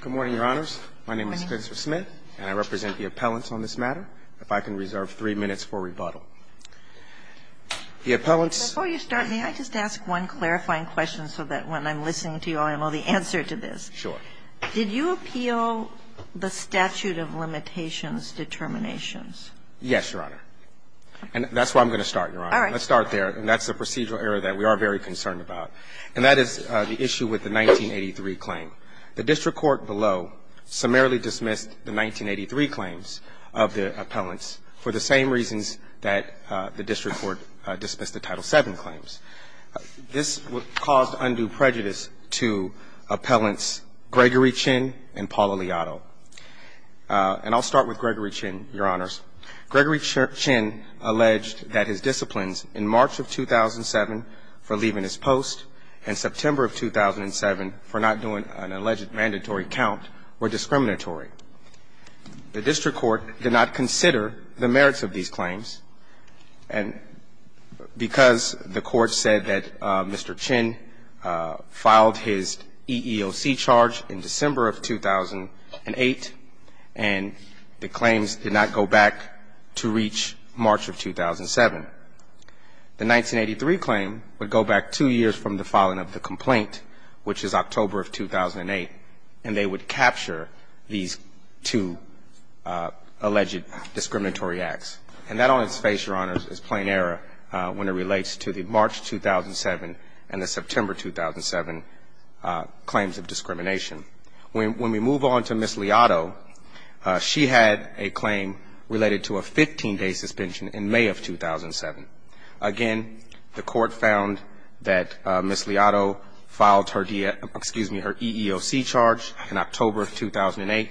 Good morning, Your Honors. My name is Spencer Smith, and I represent the appellants on this matter. If I can reserve three minutes for rebuttal. The appellants — Before you start, may I just ask one clarifying question so that when I'm listening to you, I know the answer to this? Sure. Did you appeal the statute of limitations determinations? Yes, Your Honor. And that's where I'm going to start, Your Honor. All right. Let's start there. And that's the procedural error that we are very concerned about. And that is the issue with the 1983 claim. The district court below summarily dismissed the 1983 claims of the appellants for the same reasons that the district court dismissed the Title VII claims. This caused undue prejudice to appellants Gregory Chin and Paul Aliato. And I'll start with Gregory Chin, Your Honors. Gregory Chin alleged that his disciplines in March of 2007 for leaving his post and September of 2007 for not doing an alleged mandatory count were discriminatory. The district court did not consider the merits of these claims. And because the court said that Mr. Chin filed his EEOC charge in December of 2008, and the claims did not go back to reach March of 2007. The 1983 claim would go back two years from the filing of the complaint, which is October of 2008. And they would capture these two alleged discriminatory acts. And that on its face, Your Honors, is plain error when it relates to the March 2007 and the September 2007 claims of discrimination. When we move on to Ms. Liato, she had a claim related to a 15-day suspension in May of 2007. Again, the court found that Ms. Liato filed her EEOC charge in October of 2008.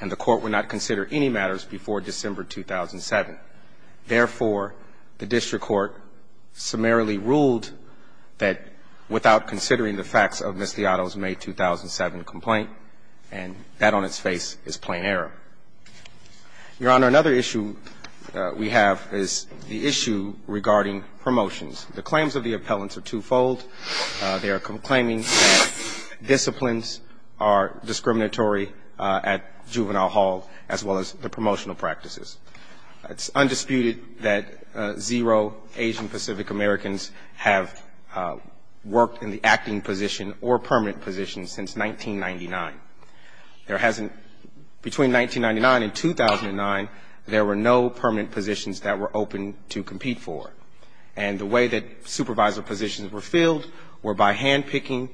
And the court would not consider any matters before December 2007. Therefore, the district court summarily ruled that without considering the facts of Ms. Liato's May 2007 complaint, and that on its face is plain error. Your Honor, another issue we have is the issue regarding promotions. The claims of the appellants are twofold. They are claiming that disciplines are discriminatory at juvenile hall, as well as the promotional practices. It's undisputed that zero Asian Pacific Americans have worked in the acting position or permanent position since 1999. There hasn't between 1999 and 2009, there were no permanent positions that were open to compete for. And the way that supervisor positions were filled were by handpicking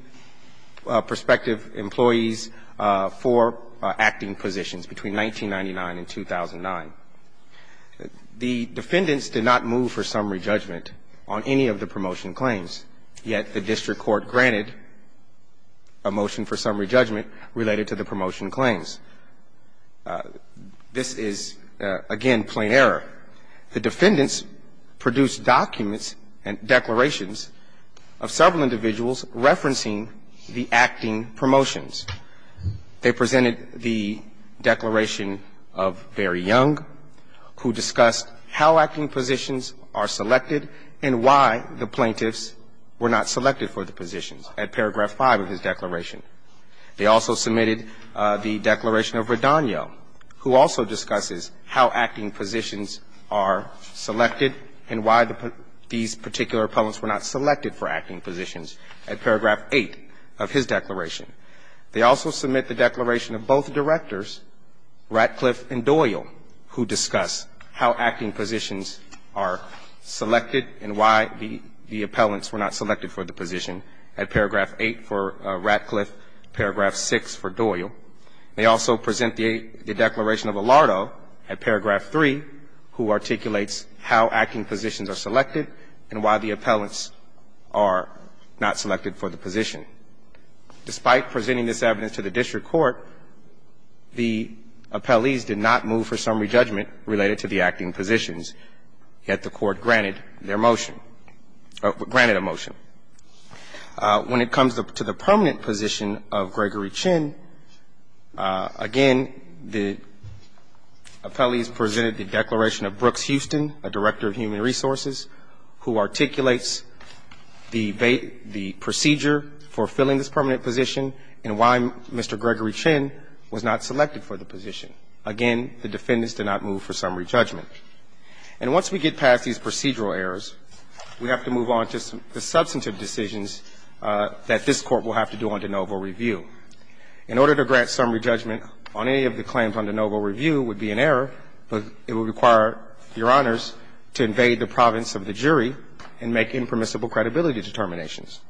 prospective employees for acting positions between 1999 and 2009. The defendants did not move for summary judgment on any of the promotion claims. Yet the district court granted a motion for summary judgment related to the promotion claims. This is, again, plain error. The defendants produced documents and declarations of several individuals referencing the acting promotions. They presented the declaration of Barry Young, who discussed how acting positions are selected and why the plaintiffs were not selected for the positions at paragraph 5 of his declaration. They also submitted the declaration of Redonio, who also discusses how acting positions are selected and why these particular appellants were not selected for acting positions at paragraph 8 of his declaration. They also submit the declaration of both directors, Ratcliffe and Doyle, who discuss how acting positions are selected and why the appellants were not selected for the position at paragraph 8 for Ratcliffe, paragraph 6 for Doyle. They also present the declaration of Allardo at paragraph 3, who articulates how acting positions are selected and why the appellants are not selected for the position. Despite presenting this evidence to the district court, the appellees did not move for summary judgment related to the acting positions, yet the court granted their motion or granted a motion. When it comes to the permanent position of Gregory Chin, again, the appellees presented the declaration of Brooks Houston, a director of Human Resources, who articulates the procedure for filling this permanent position and why Mr. Gregory Chin was not selected for the position. Again, the defendants did not move for summary judgment. And once we get past these procedural errors, we have to move on to the substantive decisions that this Court will have to do under Novo Review. In order to grant summary judgment on any of the claims under Novo Review would be an error, but it would require Your Honors to invade the province of the jury and make impermissible credibility determinations.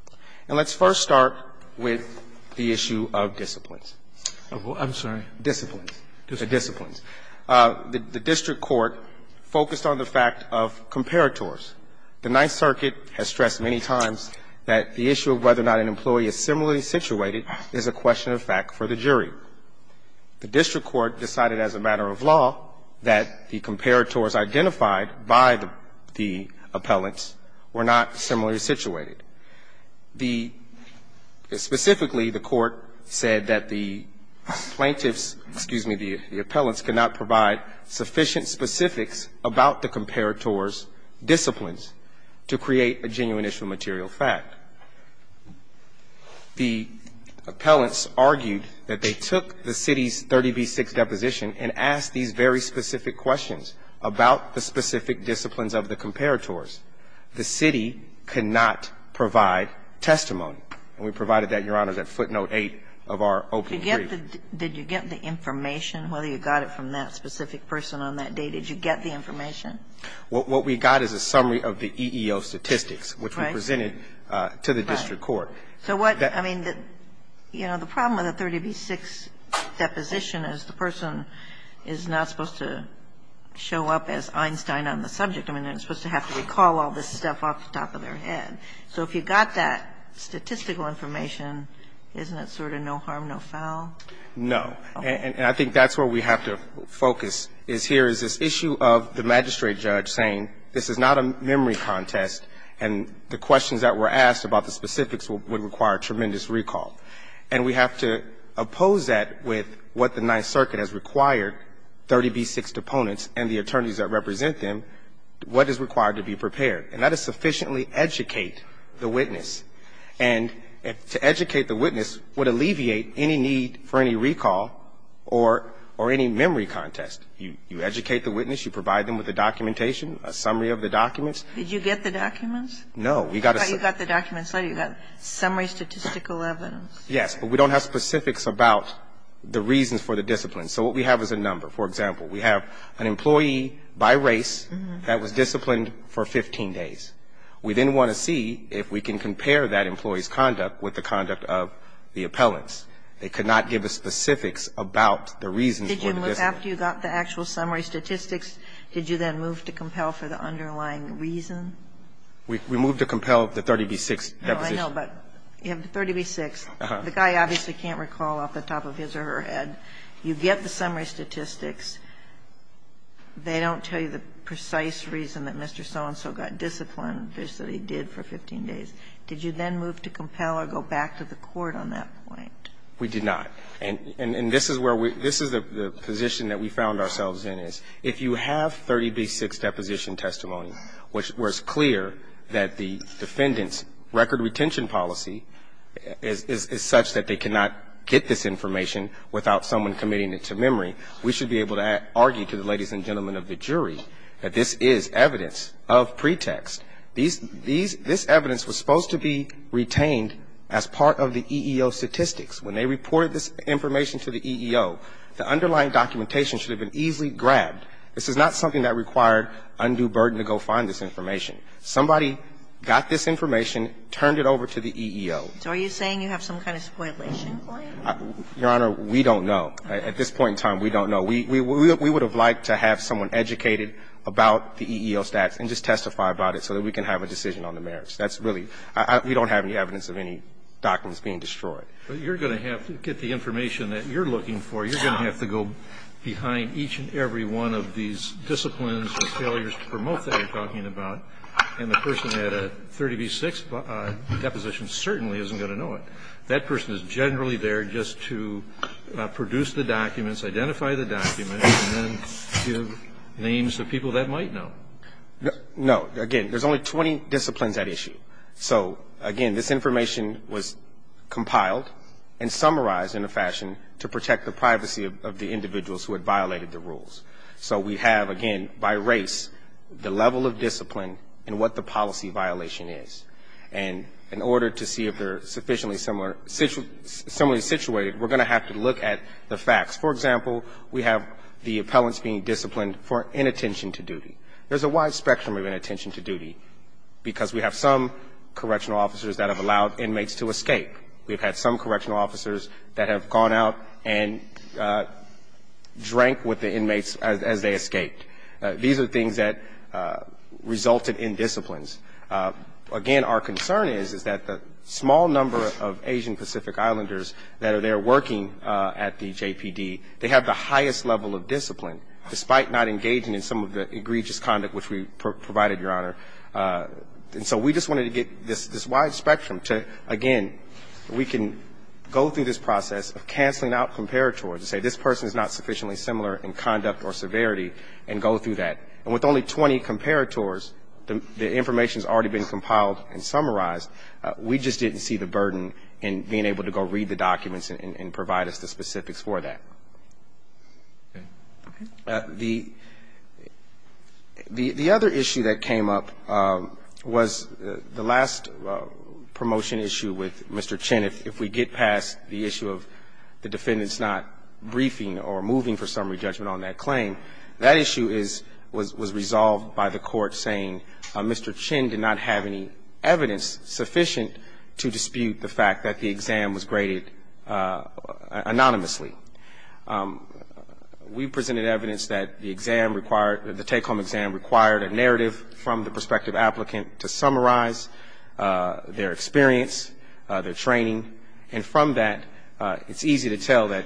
And let's first start with the issue of disciplines. Roberts. I'm sorry. Disciplines. Disciplines. The district court focused on the fact of comparators. The Ninth Circuit has stressed many times that the issue of whether or not an employee is similarly situated is a question of fact for the jury. The district court decided as a matter of law that the comparators identified by the appellants were not similarly situated. The – specifically, the court said that the plaintiffs – excuse me, the appellants could not provide sufficient specifics about the comparators' disciplines to create a genuine issue of material fact. The appellants argued that they took the city's 30b-6 deposition and asked these very specific questions about the specific disciplines of the comparators. The city could not provide testimony. And we provided that, Your Honors, at footnote 8 of our open brief. Did you get the information, whether you got it from that specific person on that day? Did you get the information? What we got is a summary of the EEO statistics, which we presented in the first case, to the district court. So what – I mean, you know, the problem with a 30b-6 deposition is the person is not supposed to show up as Einstein on the subject. I mean, they're supposed to have to recall all this stuff off the top of their head. So if you got that statistical information, isn't it sort of no harm, no foul? No. And I think that's where we have to focus, is here is this issue of the magistrate judge saying this is not a memory contest, and the questions that were asked about the specifics would require tremendous recall. And we have to oppose that with what the Ninth Circuit has required 30b-6 deponents and the attorneys that represent them, what is required to be prepared. And that is sufficiently educate the witness. And to educate the witness would alleviate any need for any recall or any memory contest. You educate the witness, you provide them with the documentation, a summary of the documents. Did you get the documents? No. I thought you got the documents later. You got summary statistical evidence. Yes. But we don't have specifics about the reasons for the discipline. So what we have is a number. For example, we have an employee by race that was disciplined for 15 days. We then want to see if we can compare that employee's conduct with the conduct of the appellants. They could not give us specifics about the reasons for the discipline. Did you move after you got the actual summary statistics, did you then move to compel for the underlying reason? We moved to compel the 30b-6 deposition. No, I know, but you have the 30b-6. Uh-huh. The guy obviously can't recall off the top of his or her head. You get the summary statistics. They don't tell you the precise reason that Mr. So-and-so got disciplined, just that he did for 15 days. Did you then move to compel or go back to the court on that point? We did not. And this is where we – this is the position that we found ourselves in, is if you have 30b-6 deposition testimony, where it's clear that the defendant's record retention policy is such that they cannot get this information without someone committing it to memory, we should be able to argue to the ladies and gentlemen of the jury that this is evidence of pretext. This evidence was supposed to be retained as part of the EEO statistics. When they reported this information to the EEO, the underlying documentation should have been easily grabbed. This is not something that required undue burden to go find this information. Somebody got this information, turned it over to the EEO. So are you saying you have some kind of spoilation claim? Your Honor, we don't know. At this point in time, we don't know. We would have liked to have someone educated about the EEO stats and just testify about it so that we can have a decision on the merits. That's really – we don't have any evidence of any documents being destroyed. But you're going to have to get the information that you're looking for. You're going to have to go behind each and every one of these disciplines or failures to promote that you're talking about. And the person at a 30 v. 6 deposition certainly isn't going to know it. That person is generally there just to produce the documents, identify the documents, and then give names to people that might know. No. Again, there's only 20 disciplines at issue. So, again, this information was compiled and summarized in a fashion to protect the privacy of the individuals who had violated the rules. So we have, again, by race, the level of discipline and what the policy violation is. And in order to see if they're sufficiently similarly situated, we're going to have to look at the facts. For example, we have the appellants being disciplined for inattention to duty. There's a wide spectrum of inattention to duty because we have some correctional officers that have allowed inmates to escape. We've had some correctional officers that have gone out and drank with the inmates as they escaped. These are things that resulted in disciplines. Again, our concern is that the small number of Asian Pacific Islanders that are there working at the JPD, they have the highest level of discipline, despite not engaging in some of the egregious conduct which we provided, Your Honor. And so we just wanted to get this wide spectrum to, again, we can go through this process of canceling out comparators and say this person is not sufficiently similar in conduct or severity and go through that. And with only 20 comparators, the information has already been compiled and summarized. We just didn't see the burden in being able to go read the documents and provide us the specifics for that. The other issue that came up was the last promotion issue with Mr. Chin. If we get past the issue of the defendants not briefing or moving for summary judgment on that claim, that issue was resolved by the Court saying Mr. Chin did not have any evidence sufficient to dispute the fact that the exam was graded anonymously. We presented evidence that the exam required, the take-home exam required a narrative from the prospective applicant to summarize their experience, their training. And from that, it's easy to tell that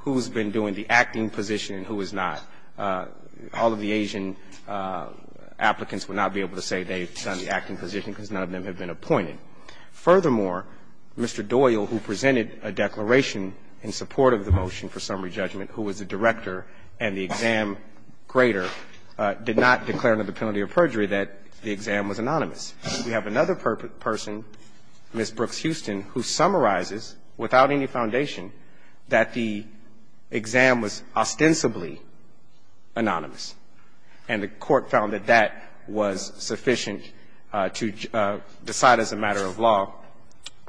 who's been doing the acting position and who is not. All of the Asian applicants would not be able to say they've done the acting position because none of them have been appointed. Furthermore, Mr. Doyle, who presented a declaration in support of the motion, for summary judgment, who was the director and the exam grader, did not declare under the penalty of perjury that the exam was anonymous. We have another person, Ms. Brooks-Houston, who summarizes, without any foundation, that the exam was ostensibly anonymous. And the Court found that that was sufficient to decide as a matter of law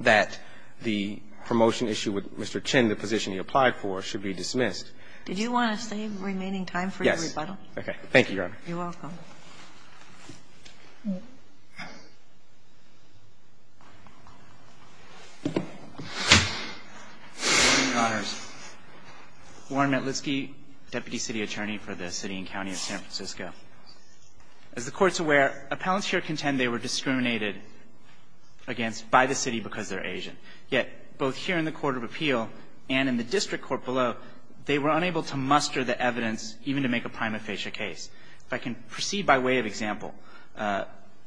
that the promotion issue with Mr. Chin, the position he applied for, should be dismissed. Did you want to save remaining time for your rebuttal? Okay. Thank you, Your Honor. You're welcome. Mr. Connors. Warren Metlitsky, Deputy City Attorney for the City and County of San Francisco. As the Court's aware, appellants here contend they were discriminated against by the city because they're Asian. Yet, both here in the Court of Appeal and in the district court below, they were unable to muster the evidence even to make a prima facie case. If I can proceed by way of example,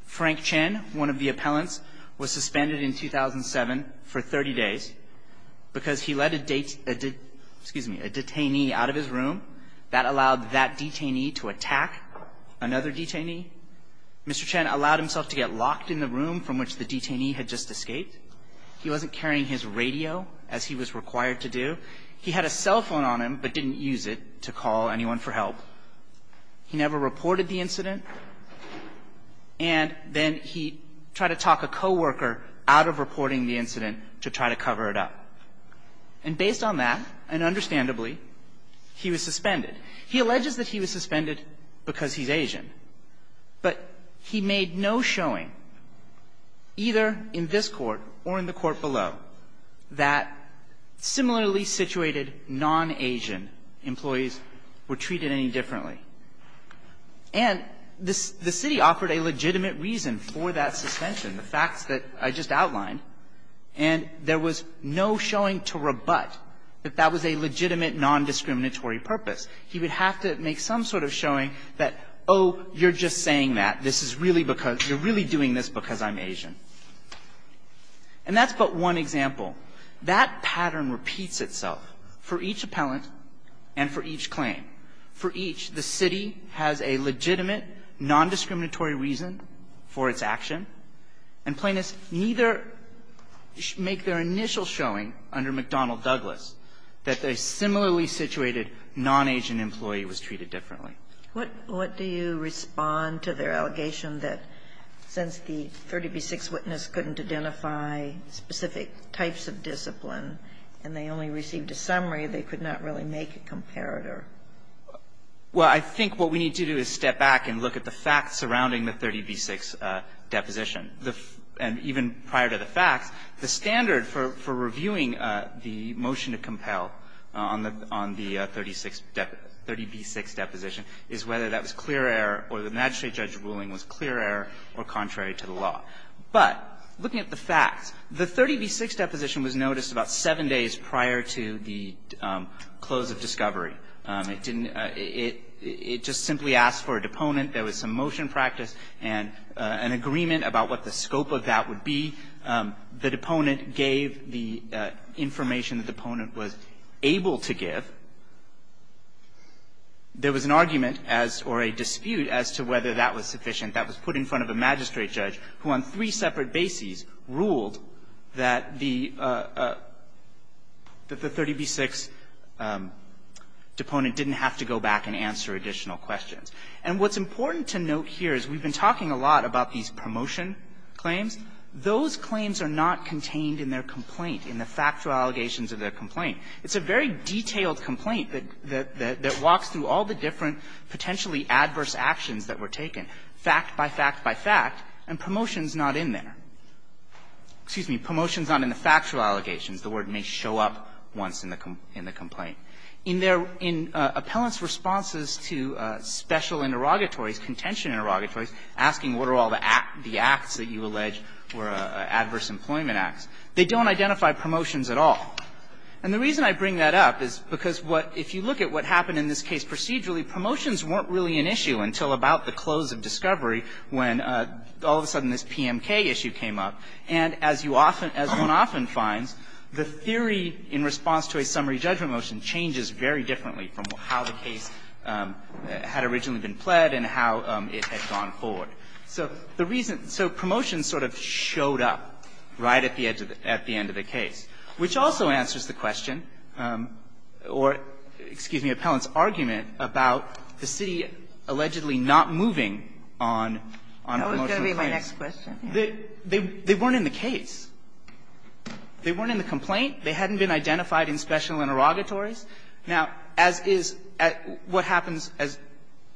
Frank Chin, one of the appellants, was suspended in 2007 for 30 days because he let a detainee out of his room. That allowed that detainee to attack another detainee. Mr. Chin allowed himself to get locked in the room from which the detainee had just escaped. He wasn't carrying his radio, as he was required to do. He had a cell phone on him, but didn't use it to call anyone for help. He never reported the incident. And then he tried to talk a co-worker out of reporting the incident to try to cover it up. And based on that, and understandably, he was suspended. He alleges that he was suspended because he's Asian. But he made no showing, either in this court or in the court below, that similarly situated non-Asian employees were treated any differently. And the city offered a legitimate reason for that suspension, the facts that I just outlined. And there was no showing to rebut that that was a legitimate, nondiscriminatory purpose. He would have to make some sort of showing that, oh, you're just saying that. This is really because you're really doing this because I'm Asian. And that's but one example. That pattern repeats itself for each appellant and for each claim. For each, the city has a legitimate, nondiscriminatory reason for its action. And plaintiffs neither make their initial showing under McDonnell Douglas that a similarly situated non-Asian employee was treated differently. What do you respond to their allegation that since the 30b-6 witness couldn't identify specific types of discipline and they only received a summary, they could not really make a comparator? Well, I think what we need to do is step back and look at the facts surrounding the 30b-6 deposition. And even prior to the facts, the standard for reviewing the motion to compel on the 30b-6 deposition is whether that was clear error or the magistrate judge's ruling was clear error or contrary to the law. But looking at the facts, the 30b-6 deposition was noticed about seven days prior to the close of discovery. It didn't – it just simply asked for a deponent. There was some motion practice and an agreement about what the scope of that would be. The deponent gave the information the deponent was able to give. There was an argument as – or a dispute as to whether that was sufficient. That was put in front of a magistrate judge who on three separate bases ruled that the – that the 30b-6 deponent didn't have to go back and answer additional questions. And what's important to note here is we've been talking a lot about these promotion claims. Those claims are not contained in their complaint, in the factual allegations of their complaint. It's a very detailed complaint that walks through all the different potentially adverse actions that were taken, fact by fact by fact, and promotions not in there. Excuse me, promotions not in the factual allegations. The word may show up once in the complaint. In their – in appellants' responses to special interrogatories, contention interrogatories, asking what are all the acts that you allege were adverse employment acts, they don't identify promotions at all. And the reason I bring that up is because what – if you look at what happened in this case procedurally, promotions weren't really an issue until about the close of discovery when all of a sudden this PMK issue came up. And as you often – as one often finds, the theory in response to a summary judgment changes very differently from how the case had originally been pled and how it had gone forward. So the reason – so promotions sort of showed up right at the edge of the – at the end of the case, which also answers the question or, excuse me, appellant's argument about the city allegedly not moving on – on most of the claims. That was going to be my next question. They weren't in the complaint. They hadn't been identified in special interrogatories. Now, as is – what happens as –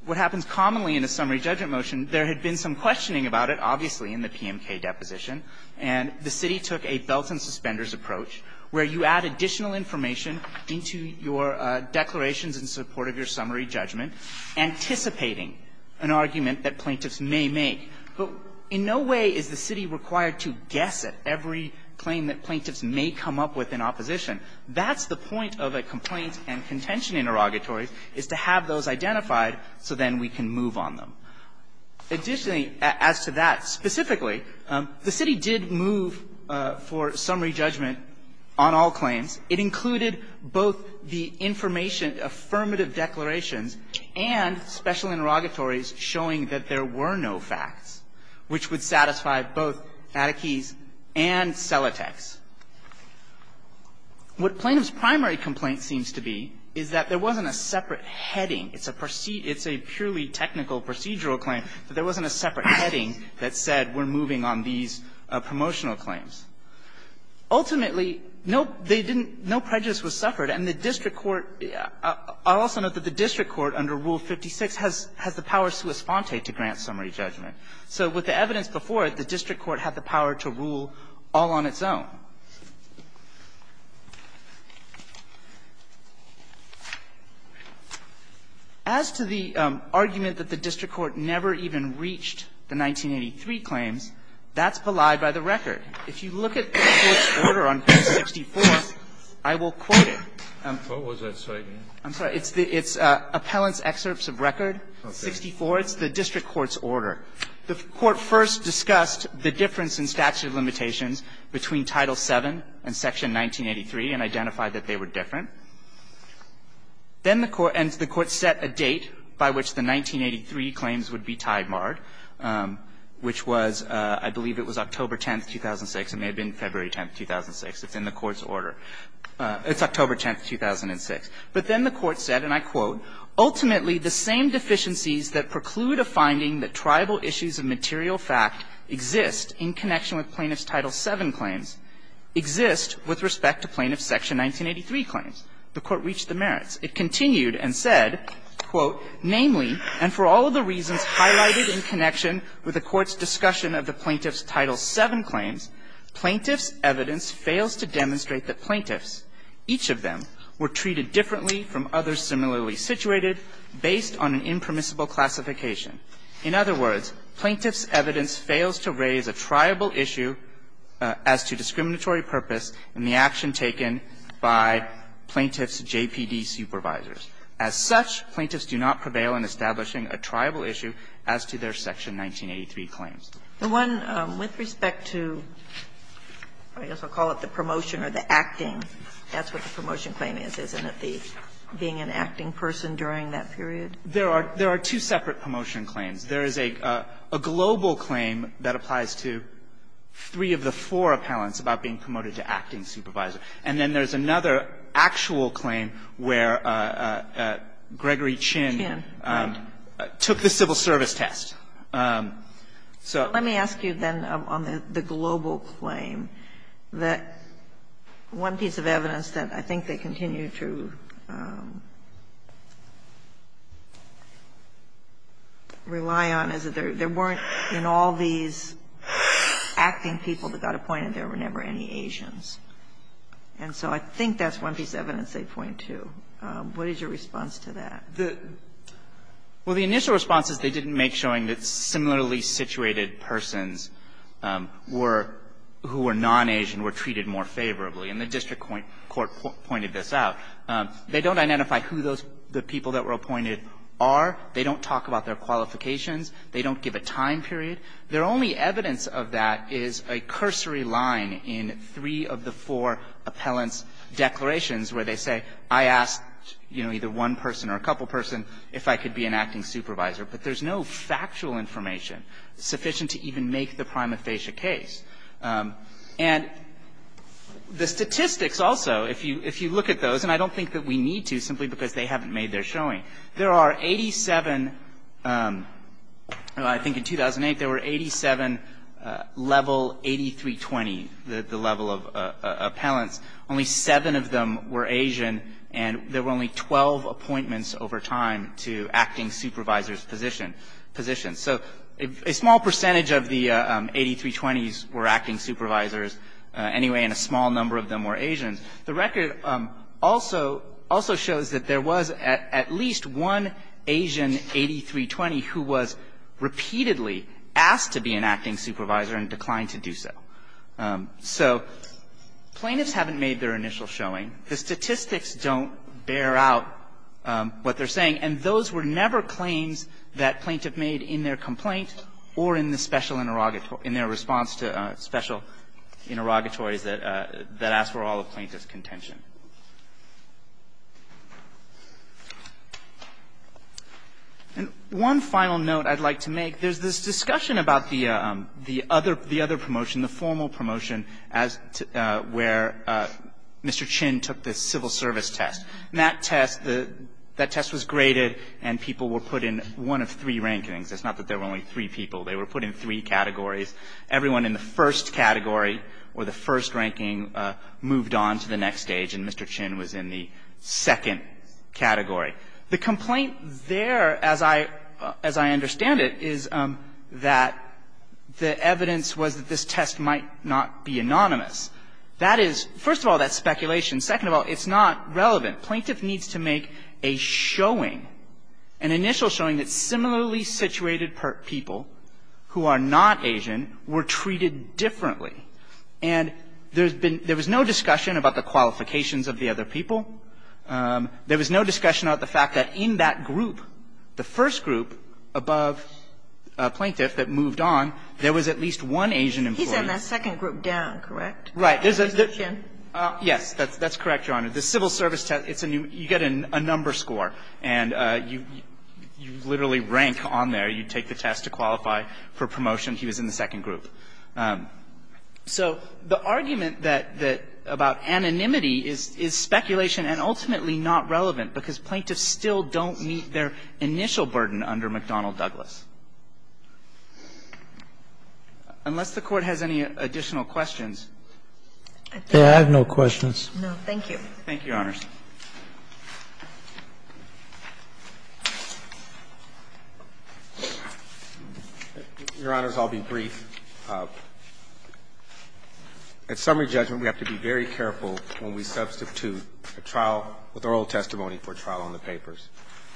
what happens commonly in a summary judgment motion, there had been some questioning about it, obviously, in the PMK deposition. And the city took a belt-and-suspenders approach where you add additional information into your declarations in support of your summary judgment, anticipating an argument that plaintiffs may make. But in no way is the city required to guess at every claim that plaintiffs may come up with in opposition. That's the point of a complaint and contention interrogatory, is to have those identified so then we can move on them. Additionally, as to that specifically, the city did move for summary judgment on all claims. It included both the information, affirmative declarations, and special interrogatories showing that there were no facts, which would satisfy both Attakee's and Selatek's. What Plaintiff's primary complaint seems to be is that there wasn't a separate heading. It's a purely technical procedural claim, but there wasn't a separate heading that said we're moving on these promotional claims. Ultimately, no prejudice was suffered. And the district court – I'll also note that the district court under Rule 56 has the power sua sponte to grant summary judgment. So with the evidence before it, the district court had the power to rule all on its own. As to the argument that the district court never even reached the 1983 claims, that's belied by the record. If you look at the court's order on page 64, I will quote it. I'm sorry. It's Appellant's Excerpts of Record, 64. It's the district court's order. The court first discussed the difference in statute of limitations between Title VII and Section 1983 and identified that they were different. Then the court – and the court set a date by which the 1983 claims would be tied marred, which was – I believe it was October 10, 2006. It may have been February 10, 2006. It's in the court's order. It's October 10, 2006. But then the court said, and I quote, Ultimately, the same deficiencies that preclude a finding that tribal issues of material fact exist in connection with plaintiff's Title VII claims exist with respect to plaintiff's Section 1983 claims. The court reached the merits. It continued and said, quote, Namely, and for all of the reasons highlighted in connection with the court's discussion of the plaintiff's Title VII claims, plaintiff's evidence fails to demonstrate that plaintiffs, each of them, were treated differently from others similarly situated based on an impermissible classification. In other words, plaintiff's evidence fails to raise a tribal issue as to discriminatory purpose in the action taken by plaintiff's JPD supervisors. As such, plaintiffs do not prevail in establishing a tribal issue as to their Section 1983 claims. And one, with respect to, I guess I'll call it the promotion or the acting, that's what the promotion claim is, isn't it, the being an acting person during that period? There are two separate promotion claims. There is a global claim that applies to three of the four appellants about being promoted to acting supervisor. And then there's another actual claim where Gregory Chin took the civil service test. So let me ask you then on the global claim that one piece of evidence that I think they continue to rely on is that there weren't, in all these acting people that got appointed, there were never any Asians. And so I think that's one piece of evidence they point to. What is your response to that? Well, the initial response is they didn't make showing that similarly situated persons were, who were non-Asian, were treated more favorably. And the district court pointed this out. They don't identify who those, the people that were appointed are. They don't talk about their qualifications. They don't give a time period. Their only evidence of that is a cursory line in three of the four appellants' declarations where they say, I asked, you know, either one person or a couple person if I could be an acting supervisor. But there's no factual information sufficient to even make the prima facie case. And the statistics also, if you look at those, and I don't think that we need to simply because they haven't made their showing, there are 87, I think in 2008 there were 87 level 8320, the level of appellants. Only seven of them were Asian. And there were only 12 appointments over time to acting supervisors' positions. So a small percentage of the 8320s were acting supervisors anyway, and a small number of them were Asians. The record also shows that there was at least one Asian 8320 who was repeatedly asked to be an acting supervisor and declined to do so. So plaintiffs haven't made their initial showing. The statistics don't bear out what they're saying. And those were never claims that plaintiff made in their complaint or in the special interrogatory, in their response to special interrogatories that asked for all the plaintiff's contention. And one final note I'd like to make. There's this discussion about the other promotion, the formal promotion, where Mr. Chin took this civil service test. And that test, that test was graded, and people were put in one of three rankings. It's not that there were only three people. They were put in three categories. Everyone in the first category or the first ranking moved on to the next stage, and Mr. Chin was in the second category. The complaint there, as I understand it, is that the evidence was that this test might not be anonymous. That is, first of all, that's speculation. Second of all, it's not relevant. Plaintiff needs to make a showing, an initial showing that similarly situated people who are not Asian were treated differently. And there's been no discussion about the qualifications of the other people. There was no discussion about the fact that in that group, the first group above a plaintiff that moved on, there was at least one Asian employee. He's in that second group down, correct? Right. Yes. That's correct, Your Honor. The civil service test, you get a number score, and you literally rank on there. You take the test to qualify for promotion. He was in the second group. So the argument that about anonymity is speculation and ultimately not relevant because plaintiffs still don't meet their initial burden under McDonnell-Douglas. Unless the Court has any additional questions. I have no questions. Thank you, Your Honors. Your Honors, I'll be brief. At summary judgment, we have to be very careful when we substitute a trial with oral testimony for a trial on the papers.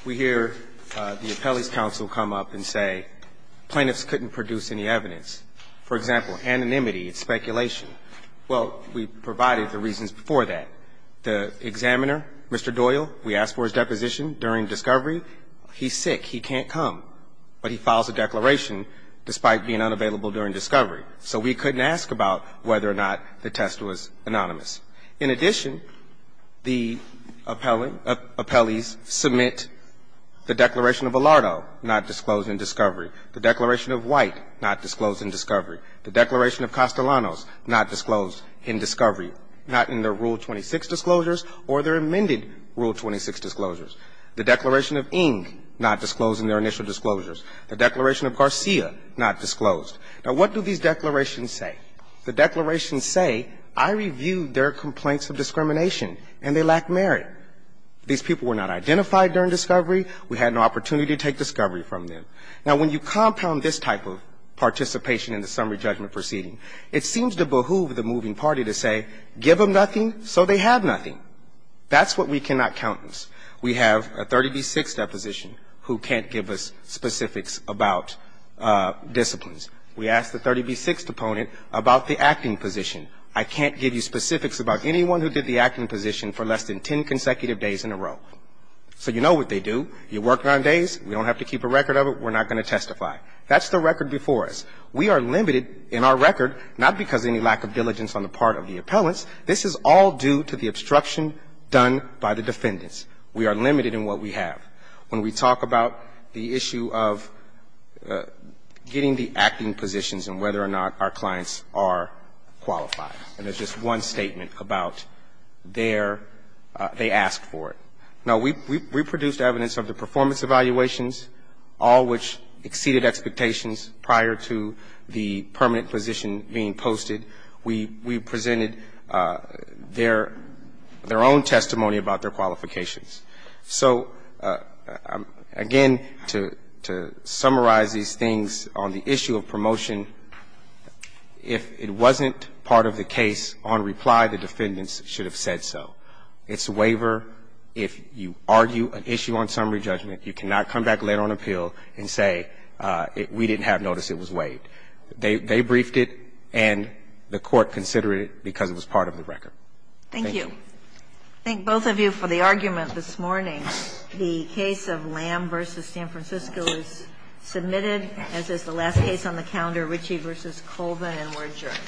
We hear the appellee's counsel come up and say plaintiffs couldn't produce any evidence. For example, anonymity is speculation. Well, we provided the reasons for that. The examiner, Mr. Doyle, we asked for his deposition during discovery. He's sick. He can't come. But he files a declaration despite being unavailable during discovery. So we couldn't ask about whether or not the test was anonymous. In addition, the appellees submit the declaration of Alardo, not disclosed in discovery. The declaration of White, not disclosed in discovery. The declaration of Castellanos, not disclosed in discovery. Not in their Rule 26 disclosures or their amended Rule 26 disclosures. The declaration of Ng, not disclosed in their initial disclosures. The declaration of Garcia, not disclosed. Now, what do these declarations say? The declarations say, I reviewed their complaints of discrimination, and they lack merit. These people were not identified during discovery. We had no opportunity to take discovery from them. Now, when you compound this type of participation in the summary judgment proceeding, it seems to behoove the moving party to say, give them nothing so they have nothing. That's what we cannot countenance. We have a 30B6 deposition who can't give us specifics about disciplines. We asked the 30B6 deponent about the acting position. I can't give you specifics about anyone who did the acting position for less than ten consecutive days in a row. So you know what they do. You work nine days. We don't have to keep a record of it. We're not going to testify. That's the record before us. We are limited in our record, not because of any lack of diligence on the part of the appellants. This is all due to the obstruction done by the defendants. We are limited in what we have. When we talk about the issue of getting the acting positions and whether or not our clients are qualified, and there's just one statement about their – they asked for it. Now, we produced evidence of the performance evaluations, all which exceeded expectations prior to the permanent position being posted. We presented their own testimony about their qualifications. So again, to summarize these things on the issue of promotion, if it wasn't part of the case, on reply, the defendants should have said so. It's a waiver. If you argue an issue on summary judgment, you cannot come back later on appeal and say we didn't have notice it was waived. They briefed it, and the Court considered it because it was part of the record. Thank you. Thank both of you for the argument this morning. The case of Lamb v. San Francisco is submitted, as is the last case on the calendar, Ritchie v. Colvin, and we're adjourned.